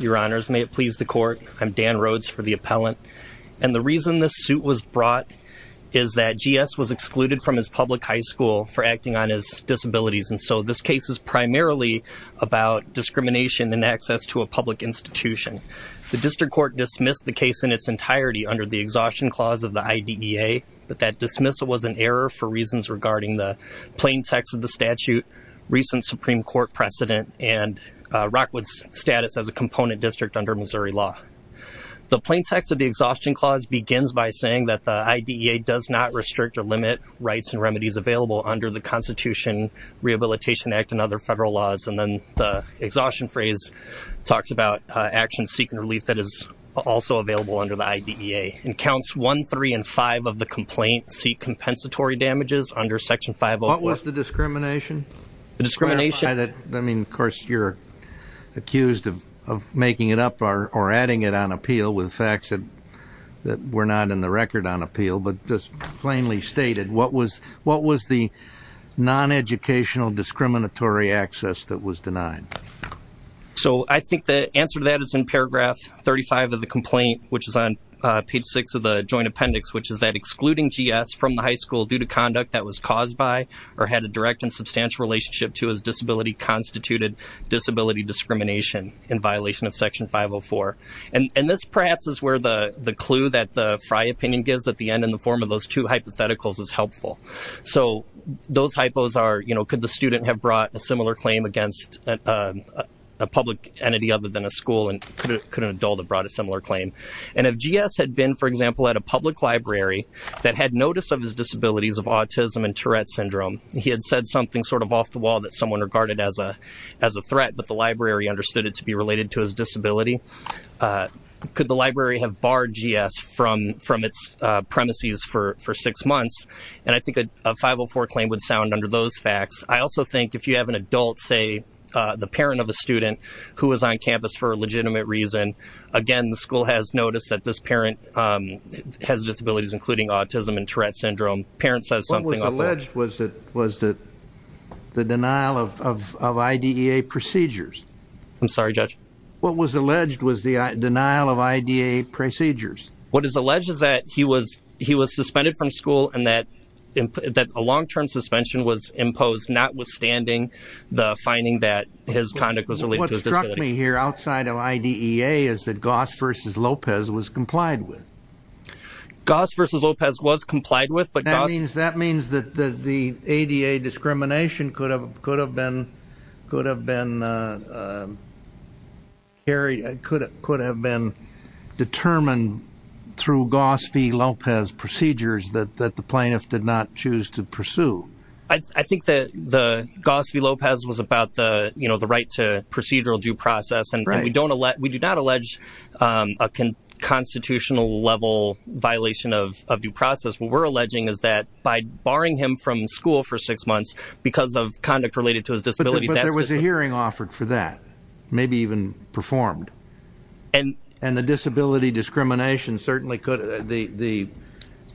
Your Honors, may it please the Court. I'm Dan Rhodes for the Appellant. And the reason this suit was brought is that G.S. was excluded from his public high school for acting on his disabilities. And so this case is primarily about discrimination and access to a public institution. The District Court dismissed the case in its entirety under the Exhaustion Clause of the IDEA, but that dismissal was an error for reasons regarding the plain text of the statute, recent Supreme Court precedent, and Rockwood's status as a component district under Missouri law. The plain text of the Exhaustion Clause begins by saying that the IDEA does not restrict or limit rights and remedies available under the Constitution, Rehabilitation Act, and other federal laws. And then the Exhaustion Phrase talks about actions seeking relief that is also available under the IDEA. And Counts 1, 3, and 5 of the complaint seek compensatory damages under Section 504. What was the discrimination? I mean, of course, you're accused of making it up or adding it on appeal with facts that were not in the record on appeal. But just plainly stated, what was the non-educational discriminatory access that was denied? So I think the answer to that is in paragraph 35 of the complaint, which is on page 6 of the joint appendix, which is that excluding GS from the high school due to conduct that was caused by or had a direct and substantial relationship to his disability constituted disability discrimination in violation of Section 504. And this perhaps is where the clue that the Frey opinion gives at the end in the form of those two hypotheticals is helpful. So those hypos are, you know, could the student have brought a similar claim against a public entity other than a school, and could an adult have brought a similar claim? And if GS had been, for example, at a public library that had notice of his disabilities of autism and Tourette syndrome, he had said something sort of off the wall that someone regarded as a threat, but the library understood it to be related to his disability, could the library have barred GS from its premises for six months? And I think a 504 claim would sound under those facts. I also think if you have an adult, say, the parent of a student who was on campus for a legitimate reason, again, the school has noticed that this parent has disabilities, including autism and Tourette syndrome. The parent says something off the wall. What was alleged was the denial of IDEA procedures. I'm sorry, Judge? What was alleged was the denial of IDEA procedures. What is alleged is that he was suspended from school and that a long-term suspension was imposed, notwithstanding the finding that his conduct was related to his disability. What you're telling me here outside of IDEA is that Goss v. Lopez was complied with. Goss v. Lopez was complied with. That means that the ADA discrimination could have been determined through Goss v. Lopez procedures that the plaintiff did not choose to pursue. I think that Goss v. Lopez was about the right to procedural due process. And we do not allege a constitutional-level violation of due process. What we're alleging is that by barring him from school for six months because of conduct related to his disability. But there was a hearing offered for that, maybe even performed. And the disability discrimination certainly could, the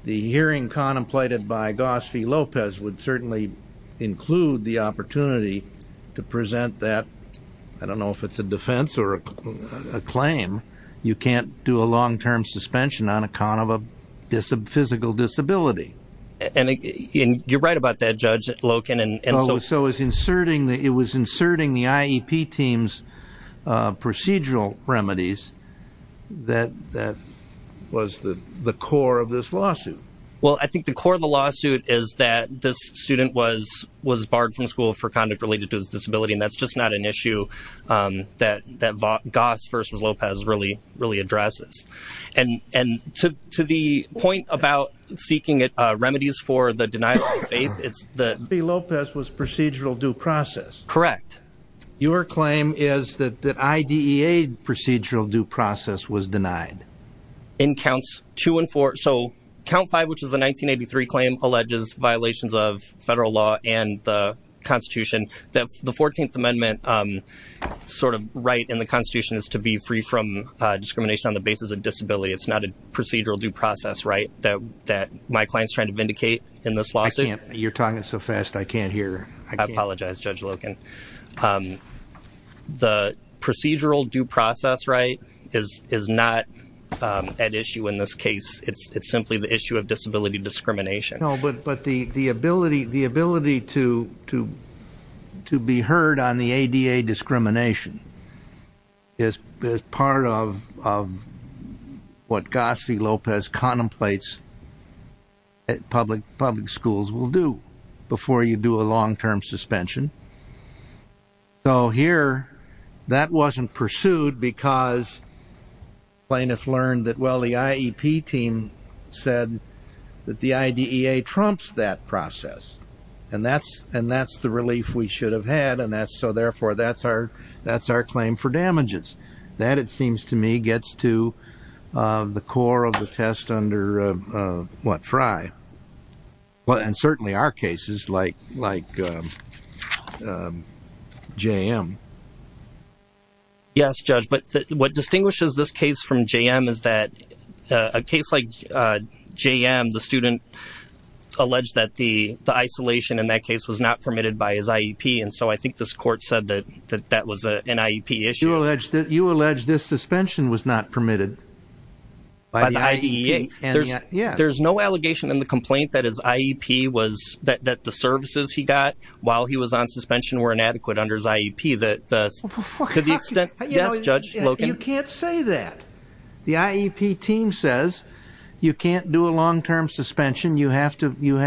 hearing contemplated by Goss v. Lopez would certainly include the opportunity to present that. I don't know if it's a defense or a claim. You can't do a long-term suspension on account of a physical disability. And you're right about that, Judge Loken. So it was inserting the IEP team's procedural remedies that was the core of this lawsuit. Well, I think the core of the lawsuit is that this student was barred from school for conduct related to his disability. And that's just not an issue that Goss v. Lopez really addresses. And to the point about seeking remedies for the denial of faith, it's the… Goss v. Lopez was procedural due process. Correct. Your claim is that IDEA procedural due process was denied. In counts two and four. So count five, which is the 1983 claim, alleges violations of federal law and the Constitution. The 14th Amendment sort of right in the Constitution is to be free from discrimination on the basis of disability. It's not a procedural due process right that my client's trying to vindicate in this lawsuit. You're talking so fast I can't hear. I apologize, Judge Loken. The procedural due process right is not at issue in this case. It's simply the issue of disability discrimination. No, but the ability to be heard on the ADA discrimination is part of what Goss v. Lopez contemplates public schools will do before you do a long-term suspension. So here, that wasn't pursued because plaintiffs learned that, well, the IEP team said that the IDEA trumps that process. And that's the relief we should have had. And so, therefore, that's our claim for damages. That, it seems to me, gets to the core of the test under, what, Fry? And certainly our cases, like JM. Yes, Judge, but what distinguishes this case from JM is that a case like JM, the student alleged that the isolation in that case was not permitted by his IEP. And so I think this court said that that was an IEP issue. You allege this suspension was not permitted by the IEP. There's no allegation in the complaint that his IEP was, that the services he got while he was on suspension were inadequate under his IEP. To the extent, yes, Judge? You can't say that. The IEP team says you can't do a long-term suspension. You have to, you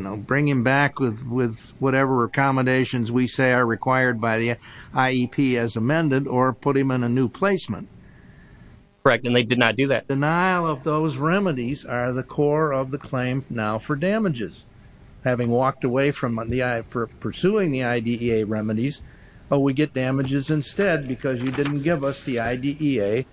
know, bring him back with whatever accommodations we say are required by the IEP as amended or put him in a new placement. Correct, and they did not do that. Denial of those remedies are the core of the claim now for damages. Having walked away from pursuing the IDEA remedies, we get damages instead because you didn't give us the IDEA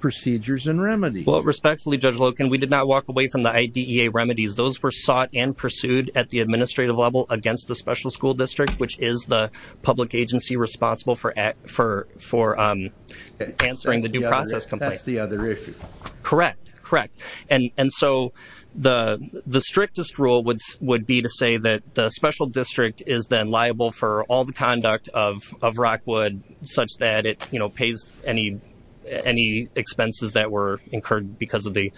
procedures and remedies. Well, respectfully, Judge Loken, we did not walk away from the IDEA remedies. Those were sought and pursued at the administrative level against the special school district, which is the public agency responsible for answering the due process complaint. That's the other issue. Correct, correct. And so the strictest rule would be to say that the special district is then liable for all the conduct of Rockwood such that it, you know, pays any expenses that were incurred because of the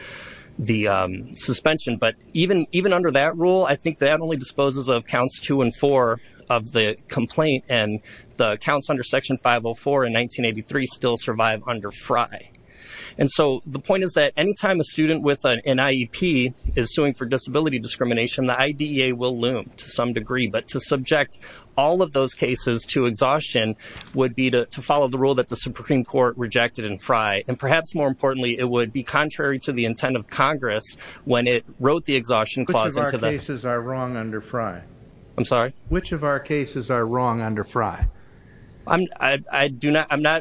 suspension. But even under that rule, I think that only disposes of Counts 2 and 4 of the complaint, and the counts under Section 504 in 1983 still survive under FRI. And so the point is that any time a student with an IEP is suing for disability discrimination, the IDEA will loom to some degree. But to subject all of those cases to exhaustion would be to follow the rule that the Supreme Court rejected in FRI. And perhaps more importantly, it would be contrary to the intent of Congress when it wrote the exhaustion clause into the... Which of our cases are wrong under FRI? I'm sorry? Which of our cases are wrong under FRI? I'm not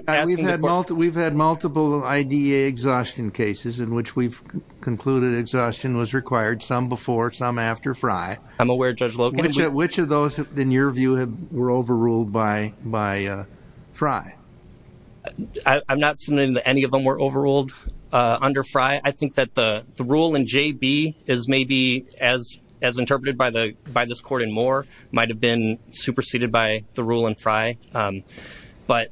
asking the court... We've had multiple IDEA exhaustion cases in which we've concluded exhaustion was required, some before, some after FRI. I'm aware, Judge Loken. Which of those, in your view, were overruled by FRI? I'm not submitting that any of them were overruled under FRI. I think that the rule in JB is maybe, as interpreted by this court in Moore, might have been superseded by the rule in FRI. But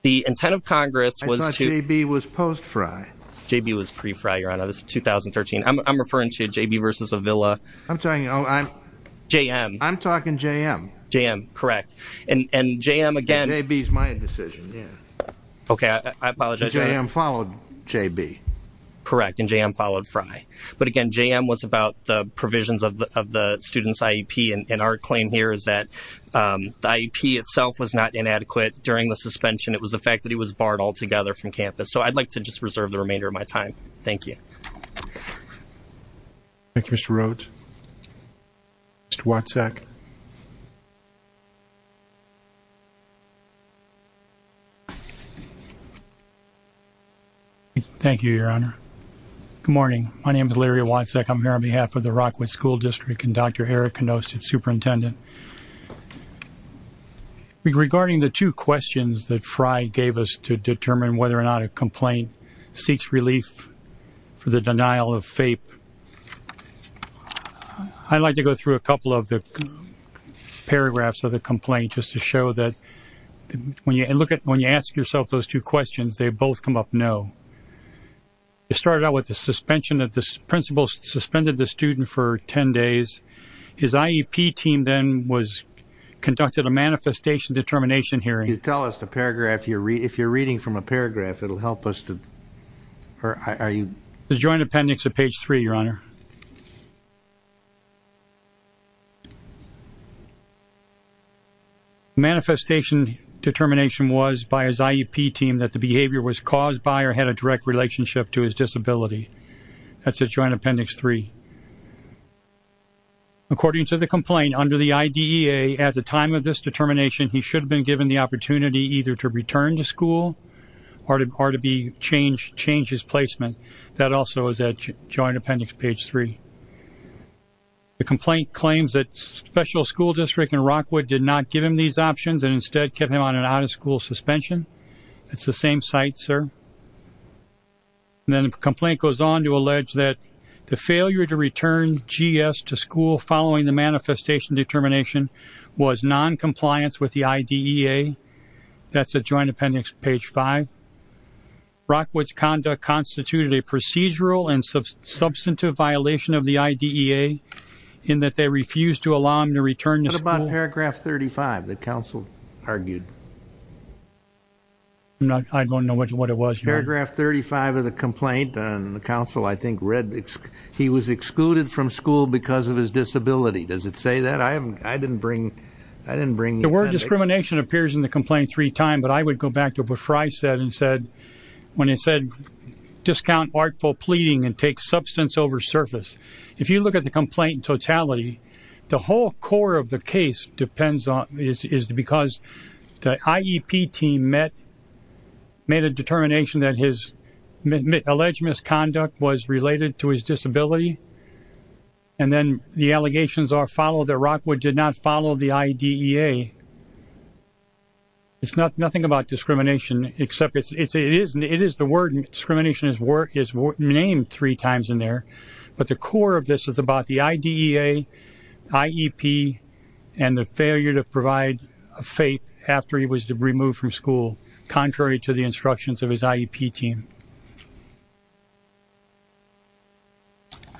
the intent of Congress was to... I thought JB was post-FRI. JB was pre-FRI, Your Honor. This is 2013. I'm referring to JB versus Avila. I'm talking... JM. I'm talking JM. JM, correct. And JM, again... JB is my decision, yeah. Okay, I apologize. JM followed JB. Correct. And JM followed FRI. But, again, JM was about the provisions of the student's IEP. And our claim here is that the IEP itself was not inadequate during the suspension. It was the fact that he was barred altogether from campus. So I'd like to just reserve the remainder of my time. Thank you. Thank you, Mr. Rhodes. Mr. Watzak. Mr. Watzak. Thank you, Your Honor. Good morning. My name is Larry Watzak. I'm here on behalf of the Rockwood School District and Dr. Eric Knost, its superintendent. Regarding the two questions that FRI gave us to determine whether or not a complaint seeks relief for the denial of FAPE, I'd like to go through a couple of the paragraphs of the complaint just to show that when you ask yourself those two questions, they both come up no. It started out with the suspension of the principal suspended the student for 10 days. His IEP team then conducted a manifestation determination hearing. Can you tell us the paragraph? If you're reading from a paragraph, it will help us to... The joint appendix of page 3, Your Honor. The manifestation determination was by his IEP team that the behavior was caused by or had a direct relationship to his disability. That's at joint appendix 3. According to the complaint, under the IDEA, at the time of this determination, he should have been given the opportunity either to return to school or to change his placement. That also is at joint appendix page 3. The complaint claims that special school district in Rockwood did not give him these options and instead kept him on an out-of-school suspension. It's the same site, sir. Then the complaint goes on to allege that the failure to return GS to school following the manifestation determination was noncompliance with the IDEA. That's at joint appendix page 5. Rockwood's conduct constituted a procedural and substantive violation of the IDEA in that they refused to allow him to return to school. What about paragraph 35 that counsel argued? I don't know what it was, Your Honor. Paragraph 35 of the complaint. The counsel, I think, read he was excluded from school because of his disability. Does it say that? I didn't bring the appendix. The word discrimination appears in the complaint three times, but I would go back to what Fry said when he said, discount artful pleading and take substance over surface. If you look at the complaint in totality, the whole core of the case is because the IEP team made a determination that his alleged misconduct was related to his disability, and then the allegations are followed that Rockwood did not follow the IDEA. It's nothing about discrimination except it is the word discrimination is named three times in there, but the core of this is about the IDEA, IEP, and the failure to provide a fate after he was removed from school, contrary to the instructions of his IEP team.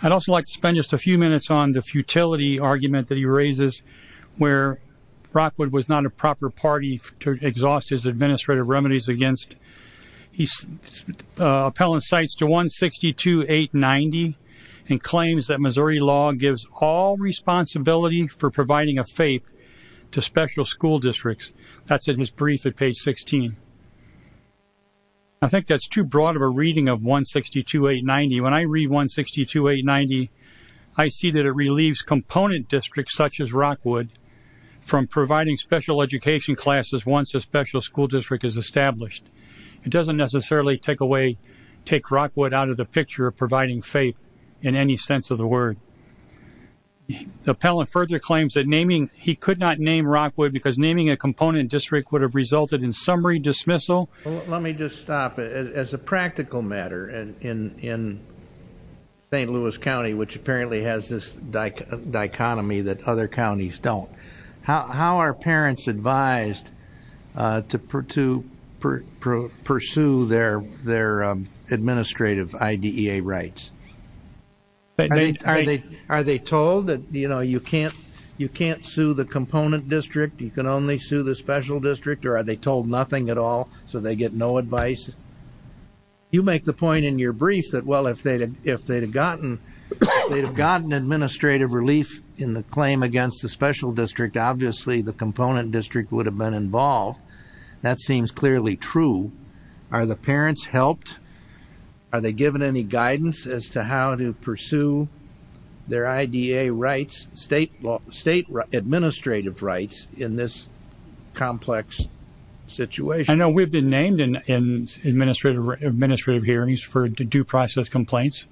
I'd also like to spend just a few minutes on the futility argument that he raises where Rockwood was not a proper party to exhaust his administrative remedies against. He's appellant cites to 162890 and claims that Missouri law gives all responsibility for providing a fate to special school districts. That's in his brief at page 16. I think that's too broad of a reading of 162890. When I read 162890, I see that it relieves component districts such as Rockwood from providing special education classes once a special school district is established. It doesn't necessarily take away, take Rockwood out of the picture of providing fate in any sense of the word. The appellant further claims that naming, he could not name Rockwood because naming a component district would have resulted in summary dismissal. Let me just stop. As a practical matter, in St. Louis County, which apparently has this dichotomy that other counties don't, how are parents advised to pursue their administrative IDEA rights? Are they told that you can't sue the component district, you can only sue the special district, or are they told nothing at all so they get no advice? You make the point in your brief that, well, if they had gotten administrative relief in the claim against the special district, obviously the component district would have been involved. That seems clearly true. Are the parents helped? Are they given any guidance as to how to pursue their IDEA rights, state administrative rights in this complex situation? I know we've been named in administrative hearings for due process complaints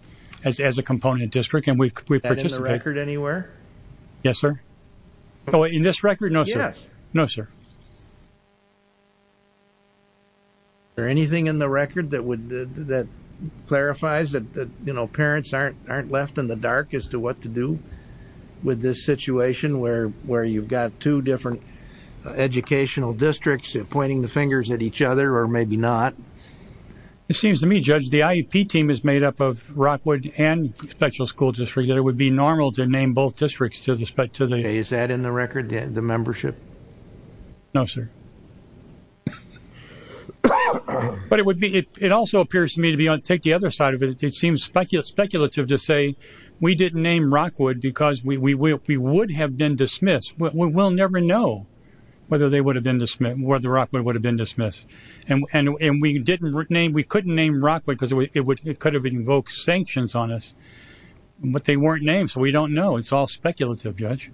as a component district. Is that in the record anywhere? Yes, sir. In this record? Yes. No, sir. Is there anything in the record that clarifies that parents aren't left in the dark as to what to do with this situation where you've got two different educational districts pointing the fingers at each other or maybe not? It seems to me, Judge, the IEP team is made up of Rockwood and the special school district, that it would be normal to name both districts. Is that in the record, the membership? No, sir. But it also appears to me, to take the other side of it, it seems speculative to say we didn't name Rockwood because we would have been dismissed. We'll never know whether Rockwood would have been dismissed. And we couldn't name Rockwood because it could have invoked sanctions on us, but they weren't named, so we don't know. It's all speculative, Judge.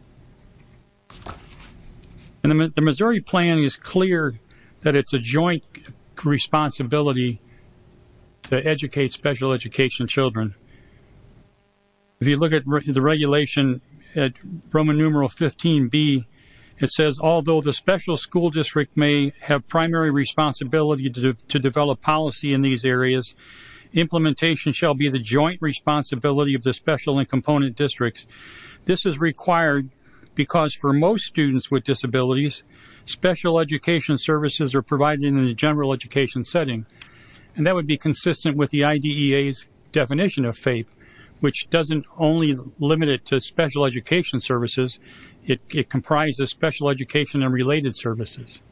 And the Missouri plan is clear that it's a joint responsibility to educate special education children. If you look at the regulation at Roman numeral 15B, it says, although the special school district may have primary responsibility to develop policy in these areas, implementation shall be the joint responsibility of the special and component districts. This is required because for most students with disabilities, special education services are provided in a general education setting, and that would be consistent with the IDEA's definition of FAPE, which doesn't only limit it to special education services, it comprises special education and related services.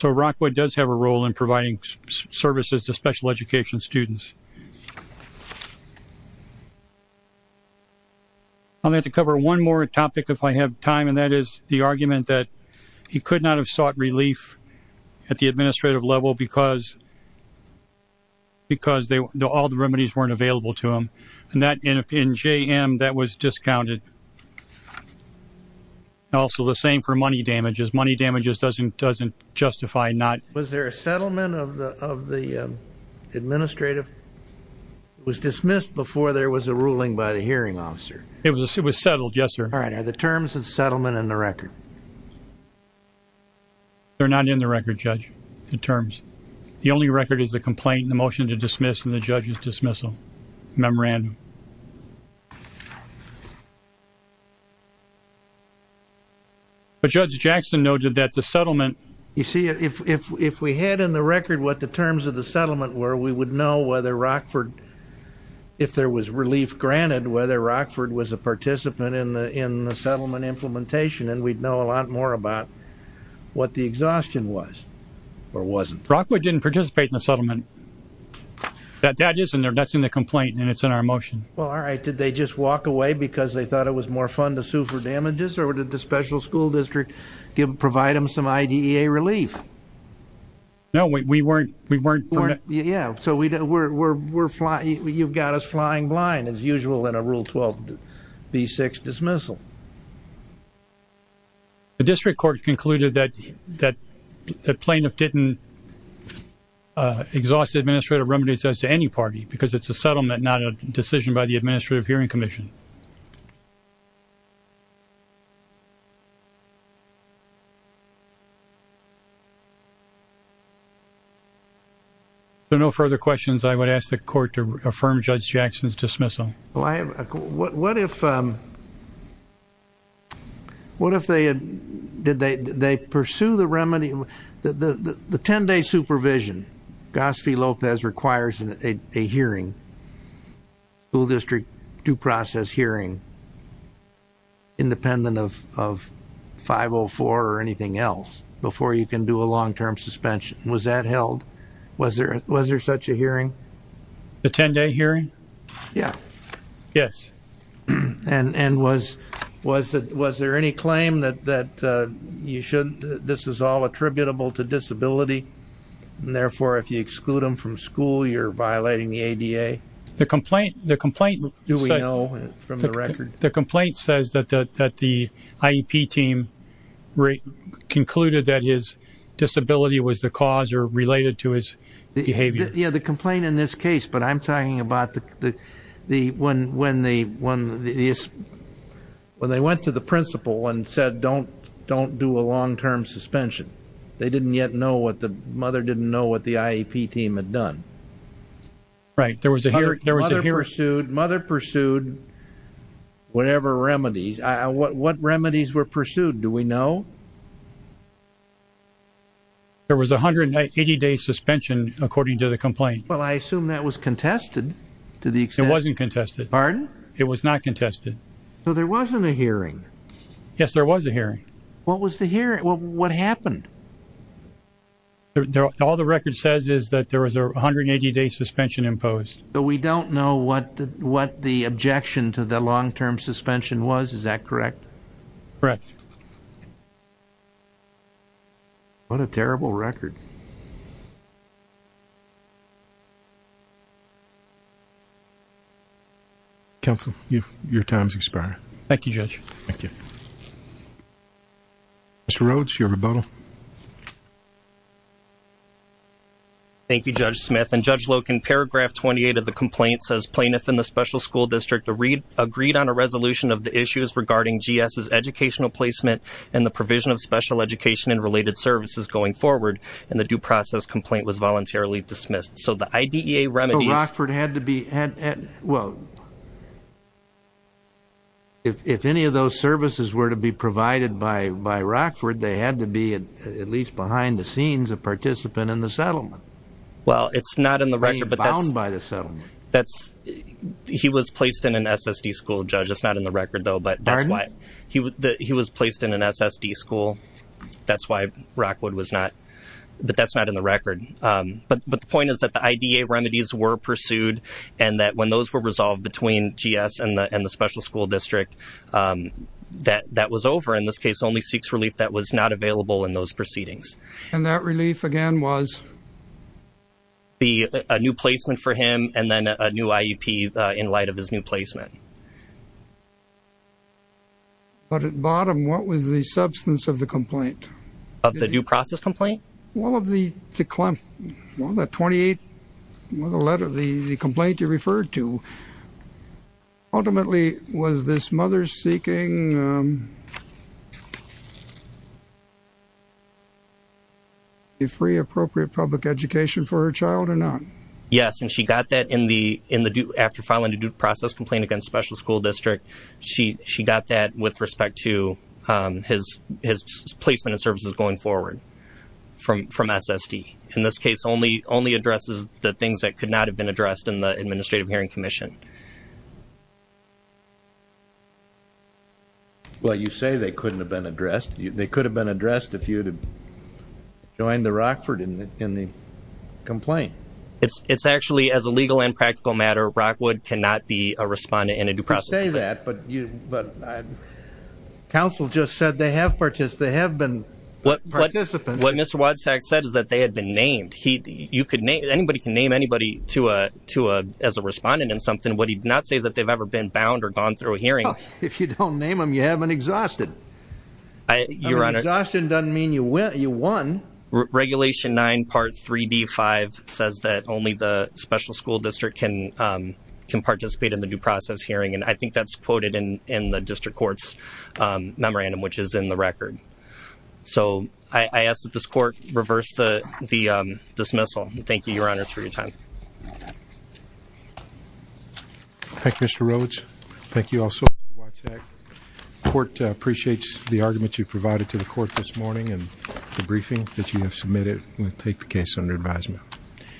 So Rockwood does have a role in providing services to special education students. I'm going to have to cover one more topic if I have time, and that is the argument that he could not have sought relief at the administrative level because all the remedies weren't available to him. And in JM, that was discounted. Also the same for money damages. Money damages doesn't justify not... Was there a settlement of the administrative? It was dismissed before there was a ruling by the hearing officer. It was settled, yes, sir. All right. Are the terms of the settlement in the record? They're not in the record, Judge, the terms. The only record is the complaint, the motion to dismiss, and the judge's dismissal memorandum. But Judge Jackson noted that the settlement... You see, if we had in the record what the terms of the settlement were, we would know whether Rockford, if there was relief granted, whether Rockford was a participant in the settlement implementation, and we'd know a lot more about what the exhaustion was or wasn't. Rockwood didn't participate in the settlement. That's in the complaint, and it's in our motion. Well, all right. Did they just walk away because they thought it was more fun to sue for damages, or did the special school district provide them some IDEA relief? No, we weren't... Yeah, so you've got us flying blind, as usual, in a Rule 12b-6 dismissal. The district court concluded that the plaintiff didn't exhaust the administrative remedies as to any party because it's a settlement, not a decision by the Administrative Hearing Commission. If there are no further questions, I would ask the court to affirm Judge Jackson's dismissal. Well, I have a... What if... What if they had... Did they pursue the remedy... The 10-day supervision, Gosphy-Lopez requires a hearing, school district due process hearing, independent of 504 or anything else, before you can do a long-term suspension. Was that held? Was there such a hearing? The 10-day hearing? Yeah. Yes. And was there any claim that this is all attributable to disability, and therefore, if you exclude him from school, you're violating the ADA? The complaint... Do we know from the record? The complaint says that the IEP team concluded that his disability was the cause or related to his behavior. Yeah, the complaint in this case, but I'm talking about the... When they went to the principal and said, don't do a long-term suspension, they didn't yet know what the... Mother didn't know what the IEP team had done. Right. There was a hearing... Mother pursued whatever remedies. What remedies were pursued? Do we know? There was a 180-day suspension, according to the complaint. Well, I assume that was contested to the extent... It wasn't contested. Pardon? It was not contested. So there wasn't a hearing? Yes, there was a hearing. What was the hearing? What happened? All the record says is that there was a 180-day suspension imposed. But we don't know what the objection to the long-term suspension was. Is that correct? Correct. What a terrible record. Counsel, your time has expired. Thank you, Judge. Thank you. Mr. Rhodes, your rebuttal. Thank you, Judge Smith. And Judge Loken, paragraph 28 of the complaint says, plaintiff and the special school district agreed on a resolution of the issues regarding GS's educational placement and the provision of special education and related services going forward. And the due process complaint was voluntarily dismissed. So the IDEA remedies... But Rockford had to be... If any of those services were to be provided by Rockford, they had to be at least behind the scenes a participant in the settlement. Well, it's not in the record, but that's... Bound by the settlement. That's... He was placed in an SSD school, Judge. It's not in the record, though, but that's why... Pardon? He was placed in an SSD school. That's why Rockford was not... But that's not in the record. But the point is that the IDEA remedies were pursued and that when those were resolved between GS and the special school district, that was over. In this case, only seeks relief that was not available in those proceedings. And that relief, again, was? A new placement for him and then a new IEP in light of his new placement. But at bottom, what was the substance of the complaint? Of the due process complaint? Well, of the 28... The complaint you referred to, ultimately was this mother-seeking... Free appropriate public education for her child or not? Yes, and she got that in the due... After filing a due process complaint against special school district, she got that with respect to his placement of services going forward from SSD. In this case, only addresses the things that could not have been addressed in the Administrative Hearing Commission. Well, you say they couldn't have been addressed. They could have been addressed if you had joined the Rockford in the complaint. It's actually, as a legal and practical matter, Rockwood cannot be a respondent in a due process complaint. You could say that, but counsel just said they have been participants. What Mr. Wodczak said is that they had been named. Anybody can name anybody as a respondent in something. What he did not say is that they've ever been bound or gone through a hearing. If you don't name them, you haven't exhausted. Exhaustion doesn't mean you won. Regulation 9 part 3D5 says that only the special school district can participate in the due process hearing, and I think that's quoted in the district court's memorandum, which is in the record. So I ask that this court reverse the dismissal. Thank you, Your Honors, for your time. Thank you, Mr. Rhodes. Thank you also, Mr. Wodczak. The court appreciates the argument you provided to the court this morning and the briefing that you have submitted. We'll take the case under advisement.